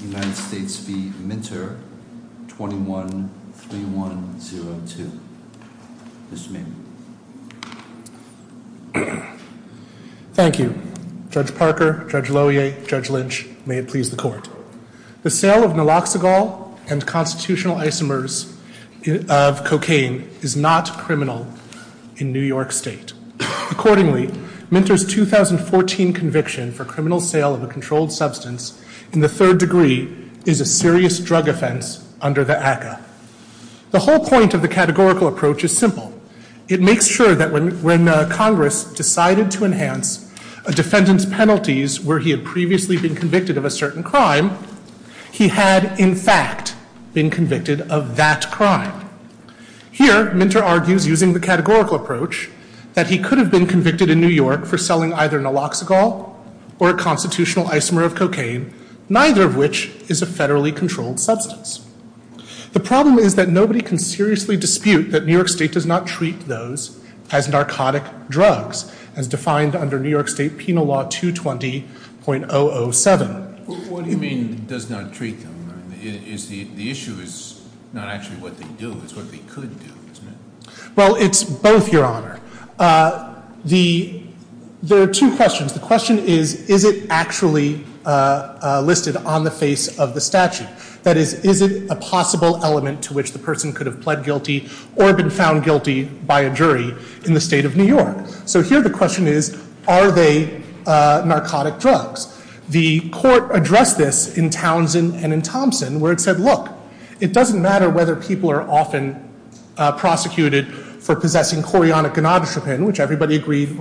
21-3102. Mr. Maynard. Thank you. Judge Parker, Judge Lohier, Judge Lynch, may it please the court. The sale of naloxagol and constitutional isomers of cocaine is not criminal in New York State. Accordingly, Minter's 2014 conviction for criminal sale of a controlled substance in the third degree is a serious drug offense under the ACCA. The whole point of the categorical approach is simple. It makes sure that when Congress decided to enhance a defendant's penalties where he had previously been convicted of a certain crime, he had in fact been convicted of that crime. Here, Minter argues using the categorical approach that he could have been convicted of a crime, neither of which is a federally controlled substance. The problem is that nobody can seriously dispute that New York State does not treat those as narcotic drugs as defined under New York State Penal Law 220.007. What do you mean does not treat them? The issue is not actually what they do, it's what they could do, isn't it? Well, it's both, Your Honor. There are two questions. The question is, is it actually listed on the face of the statute? That is, is it a possible element to which the person could have pled guilty or been found guilty by a jury in the state of New York? So here the question is, are they narcotic drugs? The court addressed this in Townsend and in Thompson where it said, look, it doesn't matter whether people are often prosecuted for possessing chorionic gonadotropin, which everybody agreed.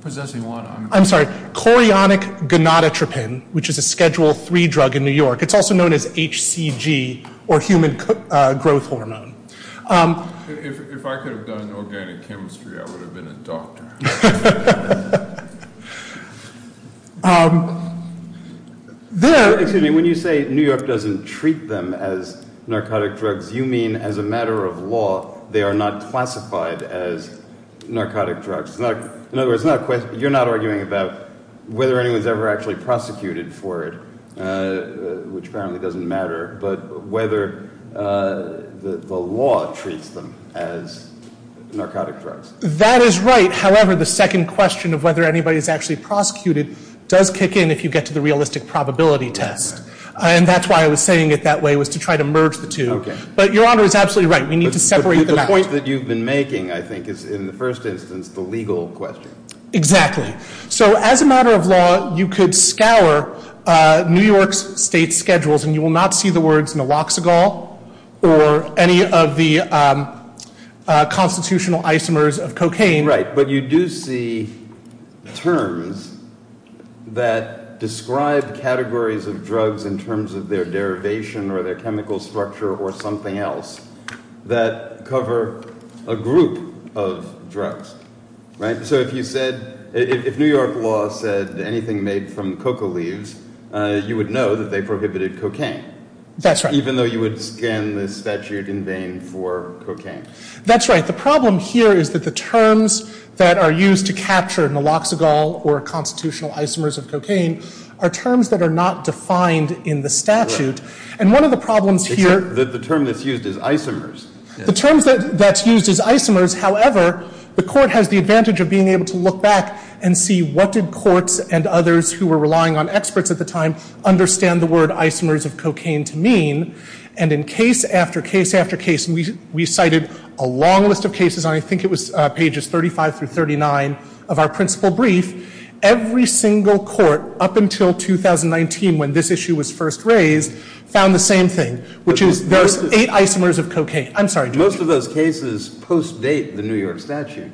Possessing what? I'm sorry, chorionic gonadotropin, which is a Schedule III drug in New York. It's also known as HCG, or human growth hormone. If I could have done organic chemistry, I would have been a doctor. Excuse me, when you say New York doesn't treat them as narcotic drugs, you mean as a matter of law they are not classified as narcotic drugs. In other words, you're not arguing about whether anyone's ever actually prosecuted for it, which apparently doesn't matter, but whether the law treats them as narcotic drugs. That is right. However, the second question of whether anybody's actually prosecuted does kick in if you get to the realistic probability test. And that's why I was saying it that way, was to try to merge the two. But Your Honor is absolutely right. We need to separate them out. The point that you've been making, I think, is in the first instance, the legal question. Exactly. So as a matter of law, you could scour New York's state schedules and you will not see the words naloxicol or any of the constitutional isomers of cocaine. Right. But you do see terms that describe categories of drugs in terms of their derivation or their chemical structure or something else that cover a group of drugs. Right? So if you said, if New York law said anything about cocaine being made from cocoa leaves, you would know that they prohibited cocaine. That's right. Even though you would scan the statute in vain for cocaine. That's right. The problem here is that the terms that are used to capture naloxicol or constitutional isomers of cocaine are terms that are not defined in the statute. And one of the problems here... The term that's used is isomers. The terms that's used is isomers, however, the court has the advantage of being able to look back and see what did courts and others who were relying on experts at the time understand the word isomers of cocaine to mean. And in case after case after case, and we cited a long list of cases, and I think it was pages 35 through 39 of our principal brief, every single court up until 2019, when this issue was first raised, found the same thing, which is those eight isomers of cocaine. I'm sorry. Most of those cases post-date the New York statute.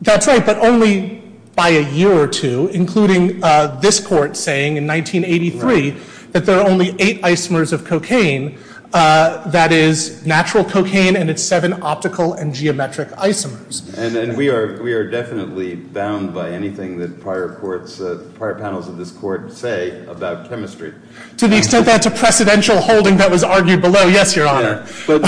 That's right, but only by a year or two, including this court saying in 1983 that there are only eight isomers of cocaine. That is natural cocaine and its seven optical and geometric isomers. And we are definitely bound by anything that prior panels of this court say about chemistry. To the extent that it's a precedential holding that was argued below, yes, Your Honor. But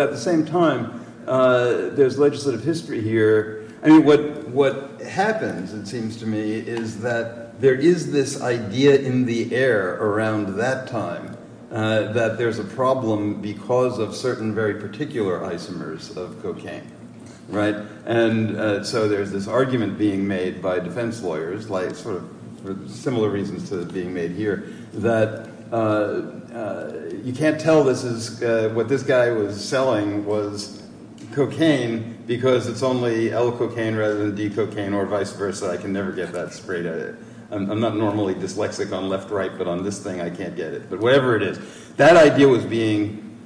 at the same time, there's legislative history here. I mean, what happens, it seems to me, is that there is this idea in the air around that time that there's a problem because of certain very particular isomers of cocaine. And so there's this argument being made by defense lawyers, like sort of similar reasons to being made here, that you can't tell what this guy was selling was cocaine because it's only L-cocaine rather than D-cocaine or vice versa. I can never get that sprayed at it. I'm not normally dyslexic on left-right, but on this thing, I can't get it. But whatever it is, that idea was being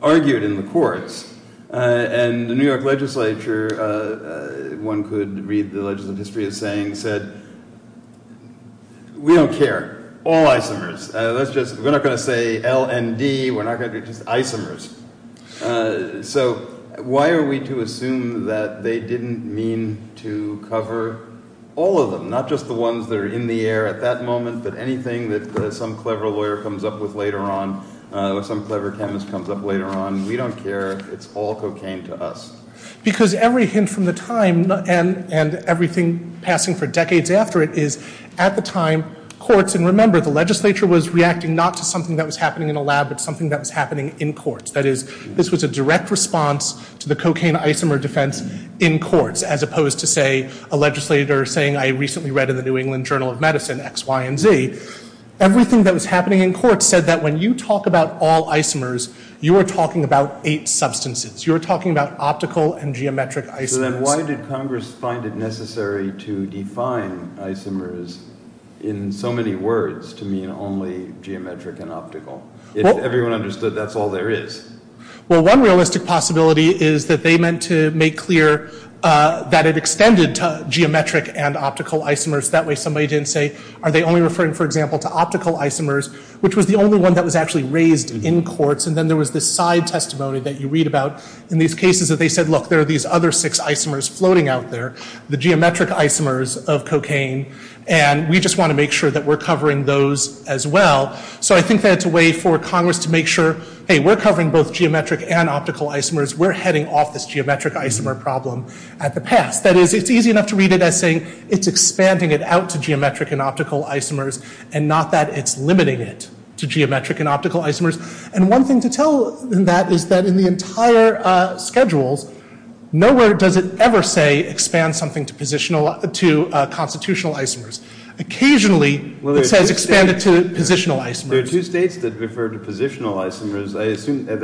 argued in the courts. And the New York legislature, one could read the legislative history as saying, said, we don't care. All isomers. We're not going to say L and D. We're not going to do just isomers. So why are we to assume that they didn't mean to cover all of them, not just the ones that are in the air at that moment, but anything that some clever lawyer comes up with later on or some clever chemist comes up later on? We don't care. It's all cocaine to us. Because every hint from the time and everything passing for decades after it is, at the time, courts, and remember, the legislature was reacting not to something that was happening in a lab, but something that was happening in courts. That is, this was a direct response to the cocaine isomer defense in courts, as opposed to, say, a legislator saying, I recently read in the New England Journal of Medicine, X, Y, and Z, everything that was happening in courts said that when you talk about all isomers, you are talking about eight substances. You're talking about optical and geometric isomers. So then why did Congress find it necessary to define isomers in so many words to mean only geometric and optical? If everyone understood, that's all there is. Well, one realistic possibility is that they meant to make clear that it extended to geometric and optical isomers. That way somebody didn't say, are they only referring, for example, to optical isomers, which was the only one that was actually raised in courts. And then there was this side testimony that you read about in these cases that they said, look, there are these other six isomers floating out there, the geometric isomers of cocaine, and we just want to make sure that we're covering those as well. So I think that's a way for Congress to make sure, hey, we're covering both geometric and optical isomers. We're heading off this geometric isomer problem at the pass. That is, it's easy enough to read it as saying, it's expanding it out to geometric and optical isomers, and not that it's limiting it to geometric and optical isomers. And one thing to tell in that is that in the entire schedules, nowhere does it ever say expand something to constitutional isomers. Occasionally, it says expand it to positional isomers. There are two states that refer to positional isomers. I assume that,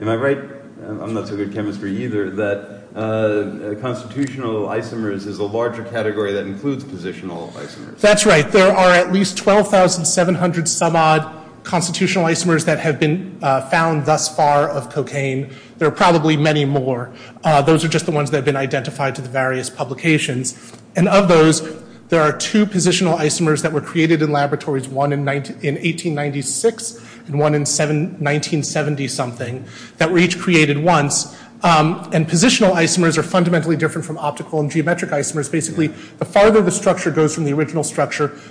am I right? I'm not so good at chemistry either, that constitutional isomers is a larger category that includes positional isomers. That's right. There are at least 12,700-some-odd constitutional isomers that have been found thus far of cocaine. There are probably many more. Those are just the ones that have been identified to the various publications. And of those, there are two positional isomers that were created in laboratories, one in 1896 and one in 1970-something, that were each created once. And positional isomers are fundamentally different from optical and geometrical structure.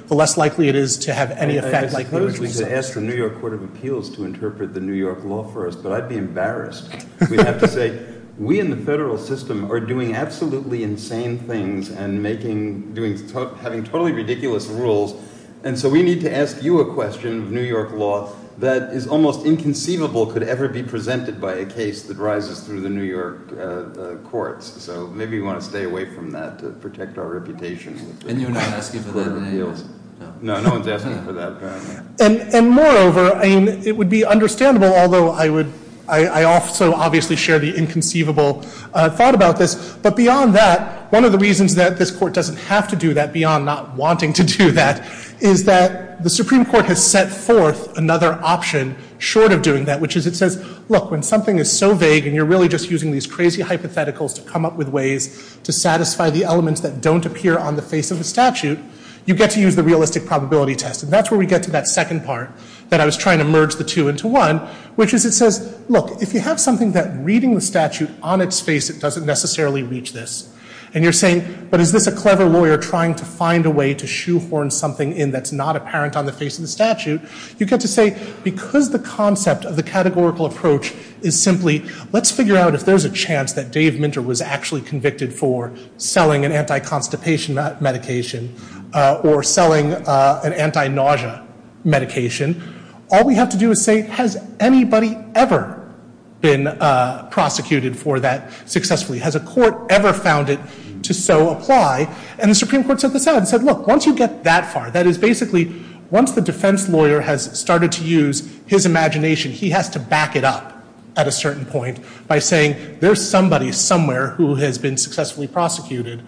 The less likely it is to have any effect like those, we say. I was going to ask the New York Court of Appeals to interpret the New York law for us, but I'd be embarrassed. We'd have to say, we in the federal system are doing absolutely insane things and having totally ridiculous rules. And so we need to ask you a question of New York law that is almost inconceivable could ever be presented by a case that rises through the New York courts. So maybe we want to stay away from that to protect our reputation. And you're not asking for the appeals? No, no one's asking for that, apparently. And moreover, it would be understandable, although I also obviously share the inconceivable thought about this. But beyond that, one of the reasons that this court doesn't have to do that, beyond not wanting to do that, is that the Supreme Court has set forth another option short of doing that, which is it says, look, when something is so vague and you're really just using these crazy hypotheticals to come up with ways to satisfy the elements that don't appear on the face of the statute, you get to use the realistic probability test. And that's where we get to that second part that I was trying to merge the two into one, which is it says, look, if you have something that reading the statute on its face, it doesn't necessarily reach this. And you're saying, but is this a clever lawyer trying to find a way to shoehorn something in that's not apparent on the face of the statute? You get to say, because the concept of the categorical approach is simply, let's figure out if there's a chance that Dave Minter was actually convicted for selling an anti-constipation medication or selling an anti-nausea medication. All we have to do is say, has anybody ever been prosecuted for that successfully? Has a court ever found it to so apply? And the Supreme Court said this out and said, look, once you get that far, that is basically, once the defense lawyer has started to use his imagination, he has to back it up at a certain point by saying, there's somebody somewhere who has been successfully prosecuted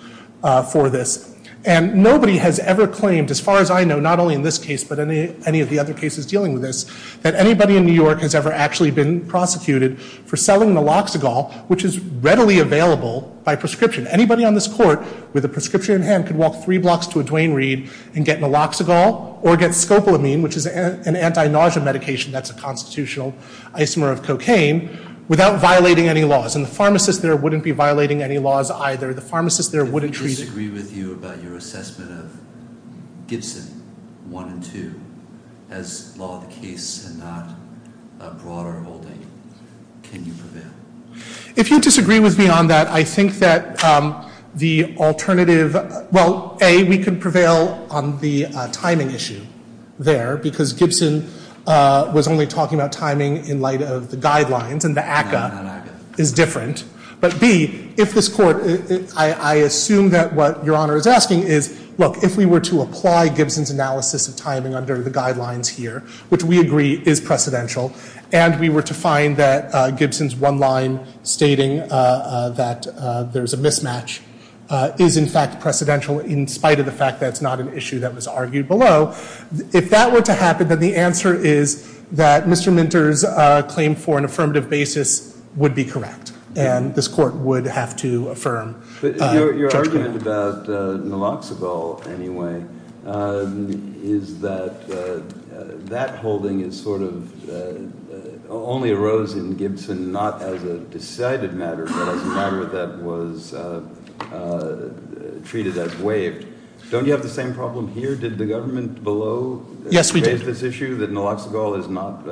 for this. And nobody has ever claimed, as far as I know, not only in this case, but any of the other cases dealing with this, that anybody in New York has ever actually been prosecuted for selling naloxagol, which is readily available by prescription. Anybody on this court with a prescription in hand could walk three blocks to a Duane Reade and get naloxagol or get scopolamine, which is an anti-nausea medication that's a constitutional isomer of cocaine, without violating any laws. And the pharmacist there wouldn't be violating any laws either. The pharmacist there wouldn't treat... If we disagree with you about your assessment of Gibson, 1 and 2, as law of the case and not a broader holding, can you prevail? If you disagree with me on that, I think that the alternative, well, A, we could prevail on the timing issue there, because Gibson was only talking about timing in light of the guidelines, and the ACCA is different. But B, if this court... I assume that what Your Honor is asking is, look, if we were to apply Gibson's analysis of timing under the guidelines here, which we agree is precedential, and we were to find that Gibson's one line stating that there's a mismatch is, in fact, precedential, in spite of the fact that it's not an issue that was argued below, if that were to happen, then the answer is that Mr. Gibson, for an affirmative basis, would be correct. And this court would have to affirm Judge Kavanaugh. But your argument about Naloxonol, anyway, is that that holding is sort of... only arose in Gibson not as a decided matter, but as a matter that was treated as waived. Don't you have the same problem here? Did the government below... Yes, we did. Raise this issue that Naloxonol is not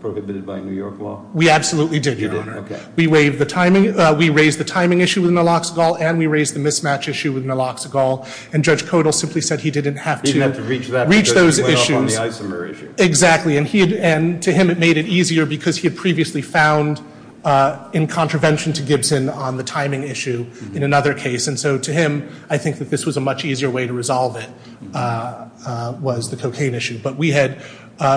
prohibited by New York law? We absolutely did, Your Honor. We raised the timing issue with Naloxonol, and we raised the mismatch issue with Naloxonol, and Judge Kodal simply said he didn't have to... He didn't have to reach that because he went off on the isomer issue. Exactly. And to him, it made it easier because he had previously found, in contravention to Gibson, on the timing issue in another case. And so to him, I think that this was a much easier way to resolve it was the cocaine issue. But we had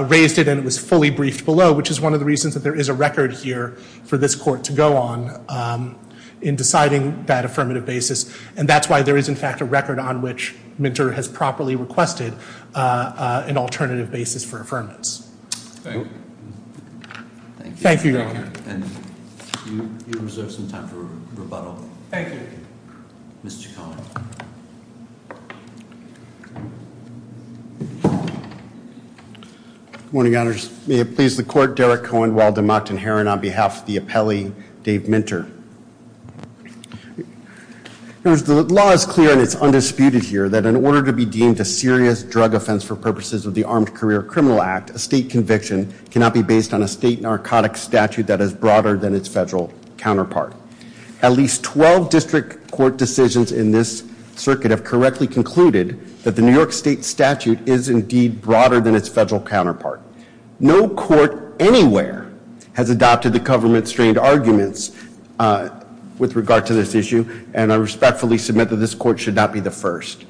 raised it and it was fully briefed below, which is one of the reasons that there is a record here for this court to go on in deciding that affirmative basis. And that's why there is, in fact, a record on which Minter has properly requested an alternative basis for affirmance. Thank you. Thank you. Thank you, Your Honor. And you reserve some time for rebuttal. Thank you. Mr. Cohen. Good morning, Your Honors. May it please the Court, Derek Cohen, Walden, Mott, and Herron on behalf of the appellee, Dave Minter. The law is clear and it's undisputed here that in order to be deemed a serious drug offense for purposes of the Armed Career Criminal Act, a state conviction cannot be based on a state narcotic statute that is broader than its federal counterpart. At least 12 district court decisions in this circuit have correctly concluded that the New York State statute is indeed broader than its federal counterpart. No court anywhere has adopted the government-strained arguments with regard to this issue, and I respectfully submit that this court should not be the first.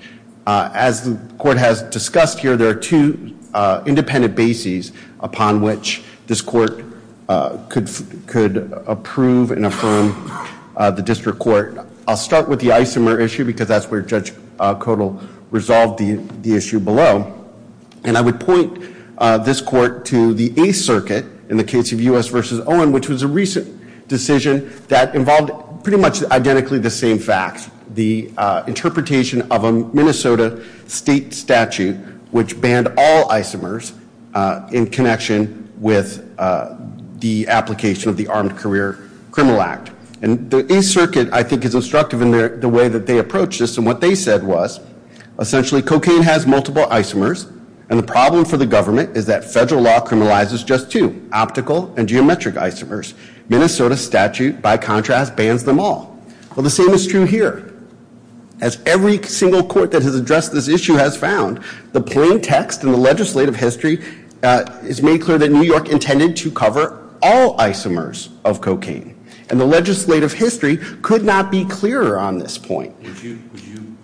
As the court has discussed here, there are two independent bases upon which this court could approve and affirm the district court. I'll start with the Isomer issue because that's where Judge Kodal resolved the issue below. And I would point this court to the Eighth Circuit in the case of U.S. v. Owen, which was a recent decision that involved pretty much identically the same facts, the interpretation of a Minnesota state statute which banned all isomers in connection with the application of the Armed Career Criminal Act. And the Eighth Circuit, I think, is instructive in the way that they approached this. And what they said was essentially cocaine has multiple isomers, and the problem for the government is that federal law criminalizes just two, optical and geometric isomers. Minnesota statute, by contrast, bans them all. Well, the same is true here. As every single court that has addressed this issue has found, the plain text and the legislative history is made clear that New York intended to cover all isomers of cocaine. And the legislative history could not be clearer on this point. Would you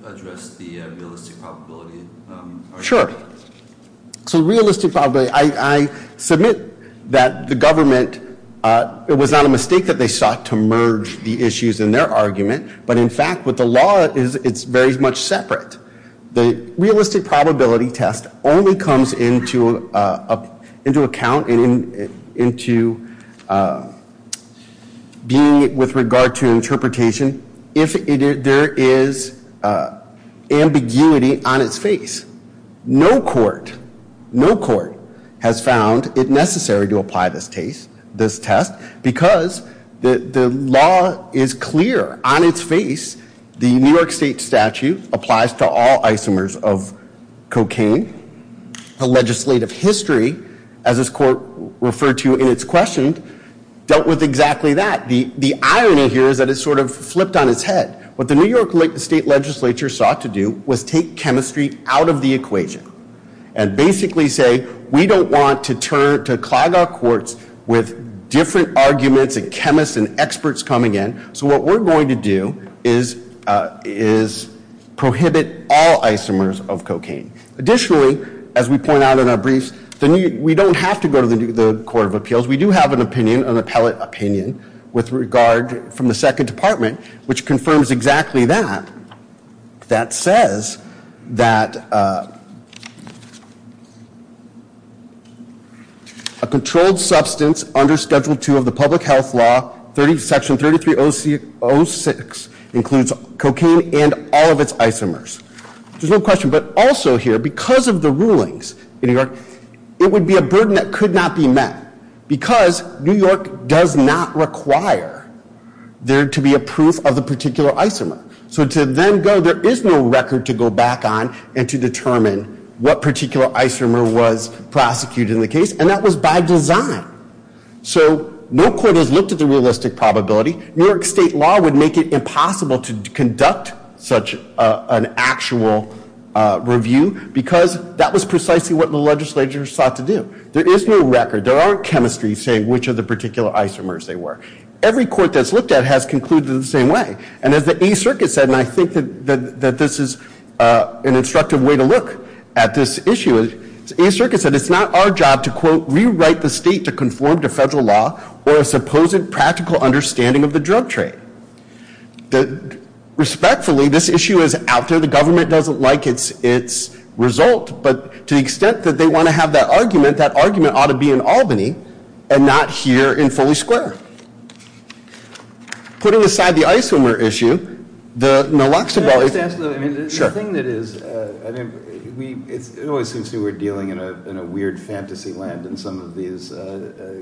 address the realistic probability argument? Sure. So realistic probability. I submit that the government, it was not a mistake that they sought to merge the issues in their argument. But in fact, what the law is, it's very much separate. The realistic probability test only comes into account and into being with regard to interpretation if there is ambiguity on its face. No court, no court has found it necessary to apply this test because the law is clear on its face. The New York state statute applies to all isomers of cocaine. The legislative history, as this court referred to in its question, dealt with exactly that. The irony here is that it sort of flipped on its head. What the New York state legislature sought to do was take chemistry out of the equation and basically say we don't want to turn, to clog our courts with different arguments and chemists and experts coming in. So what we're going to do is prohibit all isomers of cocaine. Additionally, as we point out in our briefs, we don't have to go to the Court of Appeals. We do have an opinion, an appellate opinion, with regard from the second department, which confirms exactly that. That says that a controlled substance under Schedule II of the Public Health Law, Section 3306, includes cocaine and all of its isomers. There's no question, but also here, because of the rulings in New York state, that require there to be a proof of the particular isomer. So to then go, there is no record to go back on and to determine what particular isomer was prosecuted in the case, and that was by design. So no court has looked at the realistic probability. New York state law would make it impossible to conduct such an actual review because that was precisely what the legislature sought to do. There is no record. There aren't chemistries saying which of the particular isomers they were. Every court that's looked at has concluded the same way. And as the Eighth Circuit said, and I think that this is an instructive way to look at this issue, the Eighth Circuit said it's not our job to quote, rewrite the state to conform to federal law or a supposed practical understanding of the drug trade. Respectfully, this issue is out there. The government doesn't like its result, but to the extent that they want to have that argument, that argument ought to be in Albany and not here in Foley Square. Putting aside the isomer issue, the naloxone... Can I just ask though, the thing that is, it always seems to me we're dealing in a weird fantasy land in some of these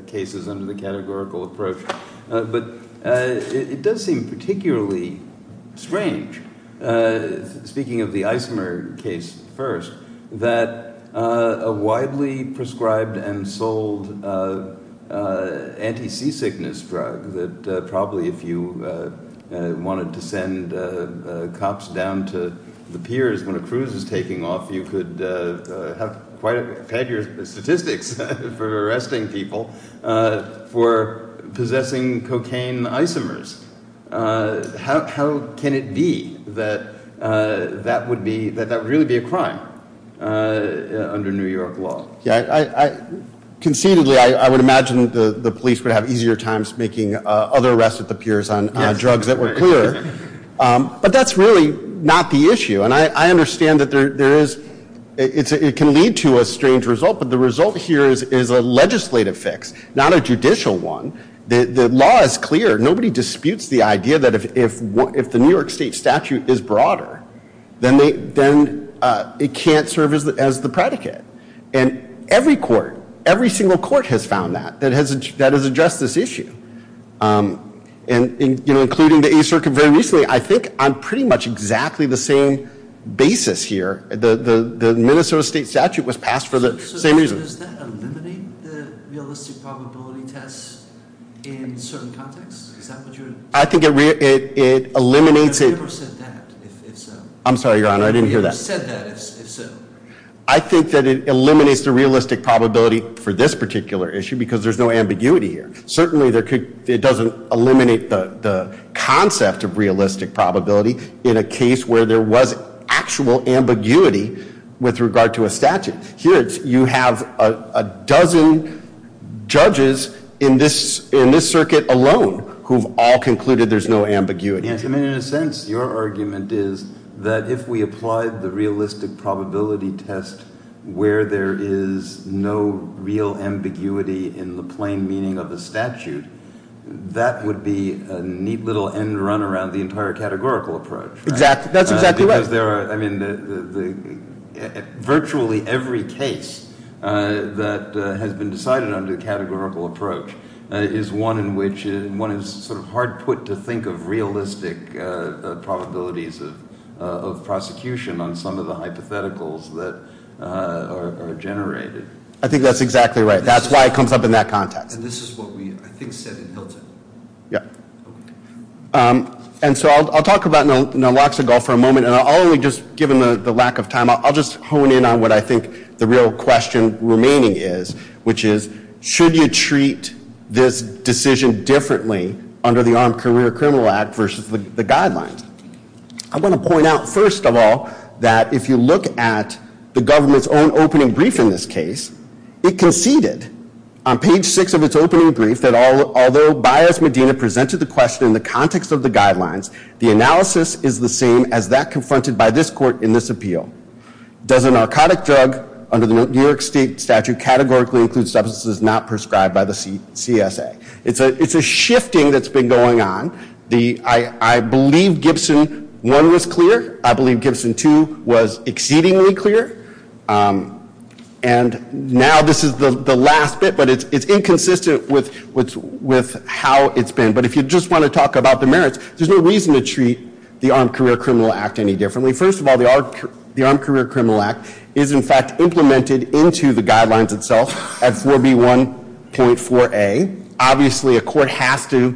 cases under the categorical approach, but it does seem particularly strange, speaking of the isomer case first, that a widely prescribed and sold anti-sea sickness drug that probably if you wanted to send cops down to the piers when a cruise is taking off, you could have quite a... Had your statistics for arresting people for possessing cocaine isomers. How can it be that that would really be a crime under New York law? Conceitedly, I would imagine the police would have easier times making other arrests at the piers on drugs that were clearer, but that's really not the issue. And I understand that there is, it can lead to a legislative fix, not a judicial one. The law is clear. Nobody disputes the idea that if the New York state statute is broader, then it can't serve as the predicate. And every court, every single court has found that, that has addressed this issue. And including the A Circuit very recently, I think on pretty much exactly the same basis here, the Minnesota state statute was passed for the same reason. Does that eliminate the realistic probability test in certain contexts? I think it eliminates it... I never said that, if so. I'm sorry, your honor, I didn't hear that. You said that, if so. I think that it eliminates the realistic probability for this particular issue because there's no ambiguity here. Certainly, it doesn't eliminate the concept of realistic probability in a case where there was actual ambiguity with regard to a statute. Here, you have a dozen judges in this circuit alone who've all concluded there's no ambiguity. In a sense, your argument is that if we applied the realistic probability test where there is no real ambiguity in the plain meaning of the statute, that would be a neat little end run around the entire categorical approach. That's exactly right. Virtually every case that has been decided under the categorical approach is one in which, one is hard put to think of realistic probabilities of prosecution on some of the hypotheticals that are generated. I think that's exactly right. That's why it comes up in that context. And this is what we, I think, said in Hilton. Yeah. And so, I'll talk about Naloxone for a moment, and I'll only just, given the lack of time, I'll just hone in on what I think the real question remaining is, which is, should you treat this decision differently under the Armed Career Criminal Act versus the guidelines? I want to point out, first of all, that if you look at the government's own opening brief in this case, it conceded, on page six of its opening brief, that although Bias Medina presented the question in the context of the guidelines, the analysis is the same as that confronted by this court in this appeal. Does a narcotic drug under the New York State statute categorically include substances not prescribed by the CSA? It's a shifting that's been going on. I believe Gibson 1 was clear. I believe Gibson 2 was exceedingly clear. And now this is the last bit, but it's inconsistent with how it's been. But if you just want to talk about the merits, there's no reason to treat the Armed Career Criminal Act any differently. First of all, the Armed Career Criminal Act is, in fact, implemented into the guidelines itself at 4B1.4a. Obviously, a court has to,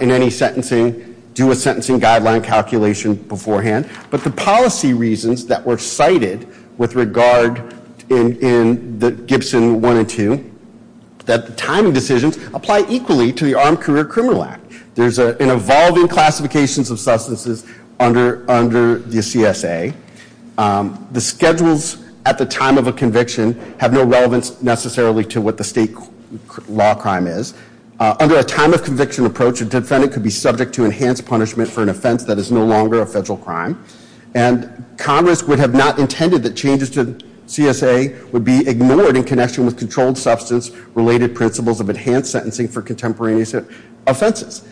in any sentencing, do a sentencing guideline calculation beforehand. But the policy reasons that were cited with regard in Gibson 1 and 2, that the timing decisions apply equally to the Armed Career Criminal Act. There's an evolving classifications of substances under the CSA. The schedules at the time of a conviction have no relevance necessarily to what the state law crime is. Under a time of conviction approach, a defendant could be subject to enhanced punishment for an offense that is no longer a federal crime. And Congress would have not intended that changes to CSA would be ignored in connection with controlled substance related principles of enhanced sentencing for contemporaneous offenses.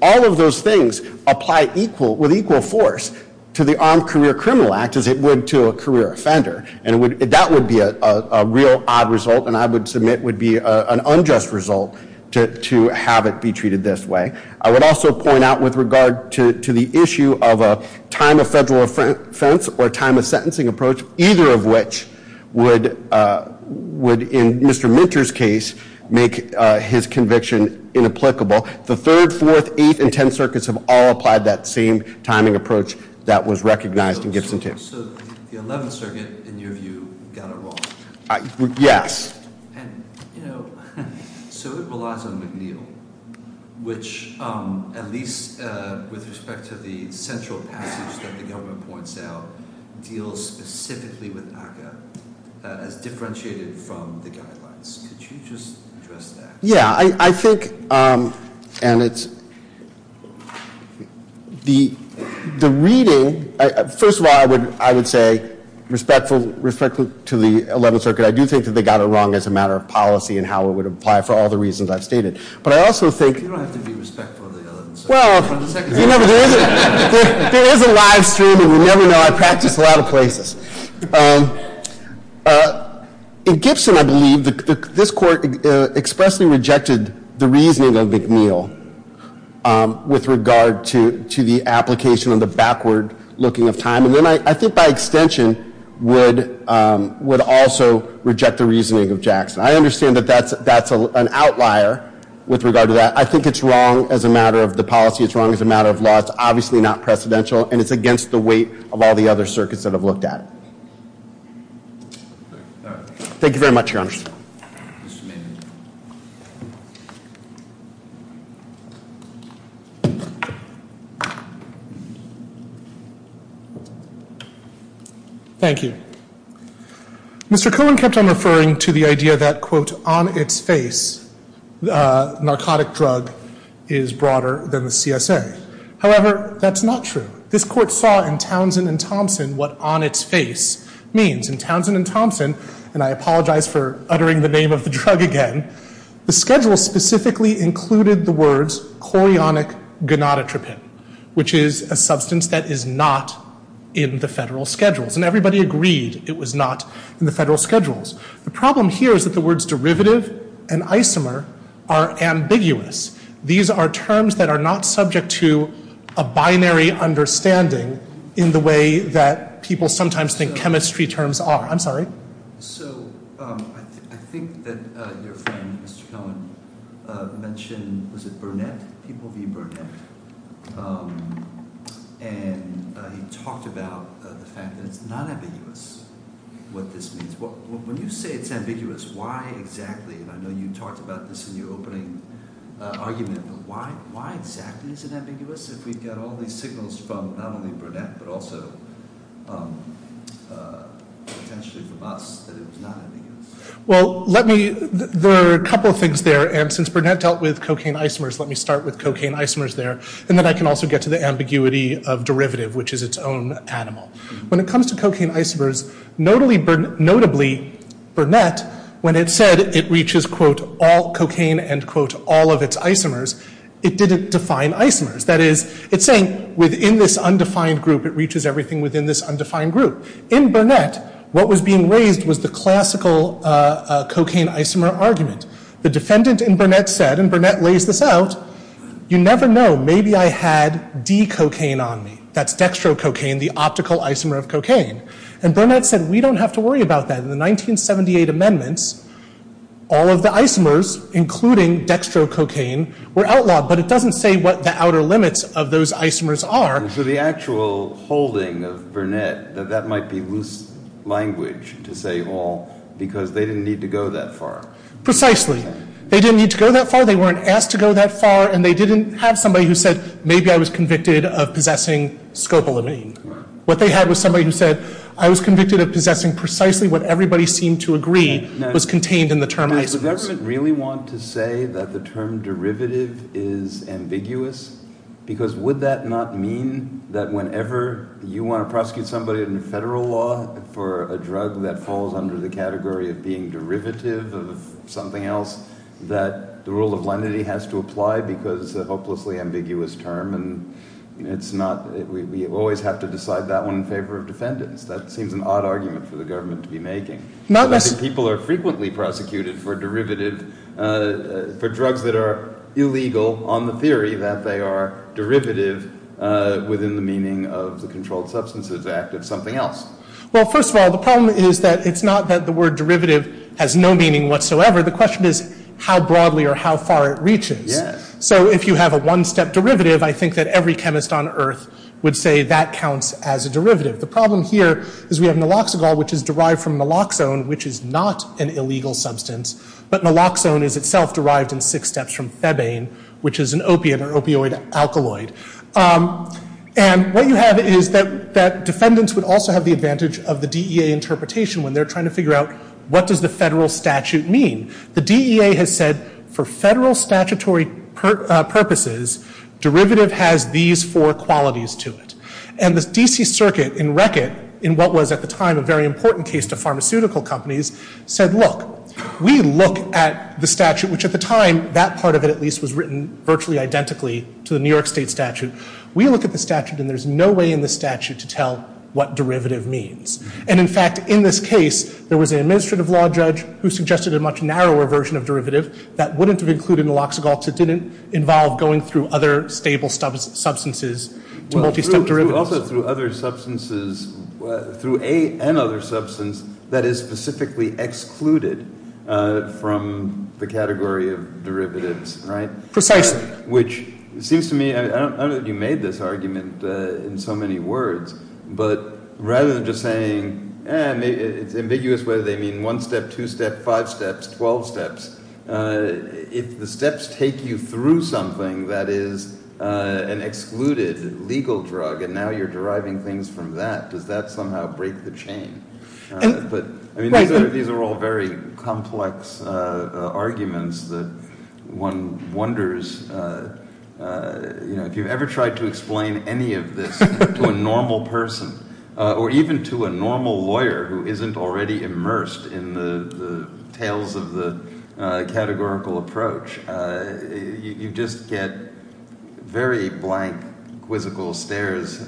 All of those things apply with equal force to the Armed Career Criminal Act as it would to a career offender. And that would be a real odd result, and I would submit would be an unjust result to have it be treated this way. I would also point out with regard to the issue of a time of federal offense or time of sentencing approach, either of which would, in Mr. Minter's case, make his conviction inapplicable. The 3rd, 4th, 8th, and 10th circuits have all applied that same timing approach that was recognized in Gibson 2. So the 11th circuit, in your view, got it wrong? Yes. And, you know, so it relies on McNeil, which at least with respect to the central passage that the government points out, deals specifically with ACCA as differentiated from the guidelines. Could you just address that? Yeah, I think, and it's, the reading, first of all, I would say, respectful to the 11th circuit, I do think that they got it wrong as a matter of policy and how it would apply for all the reasons I've stated. But I also think- You don't have to be respectful of the 11th circuit. Well, you know, there is a live stream, and you never know. I practice a lot of places. In Gibson, I believe, this court expressly rejected the reasoning of McNeil with regard to the application of the backward looking of time. And then I think by extension would also reject the reasoning of Jackson. I understand that that's an outlier with regard to that. I think it's wrong as a matter of the policy. It's wrong as a matter of law. It's obviously not precedential, and it's against the weight of all the other circuits that have looked at it. Thank you very much, Your Honor. Mr. Maynard. Thank you. Mr. Cohen kept on referring to the idea that, quote, on its face, the narcotic drug is broader than the CSA. However, that's not true. This court saw in Townsend and Thompson what on its face means. In Townsend and Thompson, and I apologize for uttering the name of the drug again, the schedule specifically included the words chlorionic gonadotropin, which is a substance that is not in the federal schedules. And everybody agreed it was not in the federal schedules. The problem here is that the words derivative and isomer are ambiguous. These are terms that are not subject to a binary understanding in the way that people sometimes think chemistry terms are. I'm sorry. So I think that your friend, Mr. Cohen, mentioned, was it Burnett, people v. Burnett, and he talked about the fact that it's not ambiguous what this means. When you say it's ambiguous, why exactly, and I know you talked about this in your opening argument, but why exactly is it ambiguous if we get all these signals from not only Burnett but also potentially from us that it was not ambiguous? Well, let me, there are a couple of things there. And since Burnett dealt with cocaine isomers, let me start with cocaine isomers there. And then I can also get to the ambiguity of derivative, which is its own animal. When it comes to cocaine isomers, notably Burnett, when it said it reaches, quote, all cocaine and, quote, all of its isomers, it didn't define isomers. That is, it's saying within this undefined group it reaches everything within this undefined group. In Burnett, what was being raised was the classical cocaine isomer argument. The defendant in Burnett said, and Burnett lays this out, you never know, maybe I had D-cocaine on me. That's dextrococaine, the optical isomer of cocaine. And Burnett said, we don't have to worry about that. In the 1978 amendments, all of the isomers, including dextrococaine, were outlawed. But it doesn't say what the outer limits of those isomers are. So the actual holding of Burnett, that that might be loose language to say all because they didn't need to go that far. Precisely. They didn't need to go that far. And they didn't have somebody who said, maybe I was convicted of possessing scopolamine. What they had was somebody who said, I was convicted of possessing precisely what everybody seemed to agree was contained in the term isomers. Now, does the government really want to say that the term derivative is ambiguous? Because would that not mean that whenever you want to prosecute somebody in federal law for a drug that falls under the category of being derivative of something else, that the rule of lenity has to apply because it's a hopelessly ambiguous term? And we always have to decide that one in favor of defendants. That seems an odd argument for the government to be making. People are frequently prosecuted for drugs that are illegal on the theory that they are derivative within the meaning of the Controlled Substances Act of something else. Well, first of all, the problem is that it's not that the word derivative has no meaning whatsoever. The question is how broadly or how far it reaches. So if you have a one-step derivative, I think that every chemist on Earth would say that counts as a derivative. The problem here is we have naloxagol, which is derived from naloxone, which is not an illegal substance. But naloxone is itself derived in six steps from thebane, which is an opiate or opioid alkaloid. And what you have is that defendants would also have the advantage of the DEA interpretation when they're trying to figure out what does the federal statute mean. The DEA has said for federal statutory purposes, derivative has these four qualities to it. And the D.C. Circuit in Reckitt, in what was at the time a very important case to pharmaceutical companies, said, look, we look at the statute, which at the time, that part of it at least, was written virtually identically to the New York State statute. We look at the statute, and there's no way in the statute to tell what derivative means. And in fact, in this case, there was an administrative law judge who suggested a much narrower version of derivative that wouldn't have included naloxagol, because it didn't involve going through other stable substances to multi-step derivatives. But also through other substances, through another substance that is specifically excluded from the category of derivatives, right? Precisely. Which seems to me, I don't know that you made this argument in so many words, but rather than just saying, it's ambiguous whether they mean one step, two step, five steps, 12 steps, if the steps take you through something that is an excluded legal drug, and now you're deriving things from that, does that somehow break the chain? I mean, these are all very complex arguments that one wonders, you know, if you've ever tried to explain any of this to a normal person, or even to a normal lawyer who isn't already immersed in the tales of the categorical approach, you just get very blank, quizzical stares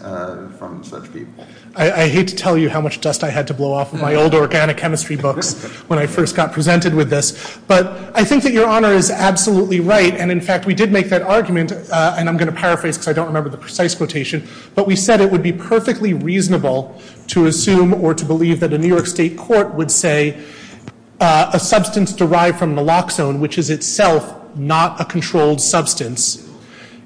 from such people. I hate to tell you how much dust I had to blow off of my old organic chemistry books when I first got presented with this, but I think that Your Honor is absolutely right, and in fact, we did make that argument, and I'm going to paraphrase because I don't remember the precise quotation, but we said it would be perfectly reasonable to assume or to believe that a New York State court would say a substance derived from naloxone, which is itself not a controlled substance,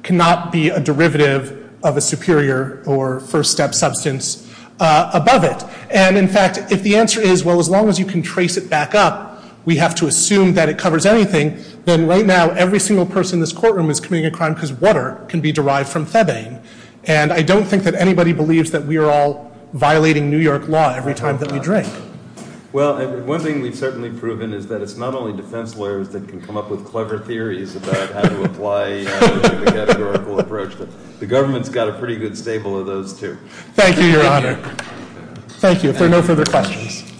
cannot be a derivative of a superior or first step substance above it. And in fact, if the answer is, well, as long as you can trace it back up, we have to assume that it covers anything, then right now, every single person in this courtroom is committing a crime because water can be derived from Thebane. And I don't think that anybody believes that we are all violating New York law every time that we drink. Well, one thing we've certainly proven is that it's not only defense lawyers that can come up with clever theories about how to apply the categorical approach. The government's got a pretty good staple of those, too. Thank you, Your Honor. Thank you. If there are no further questions.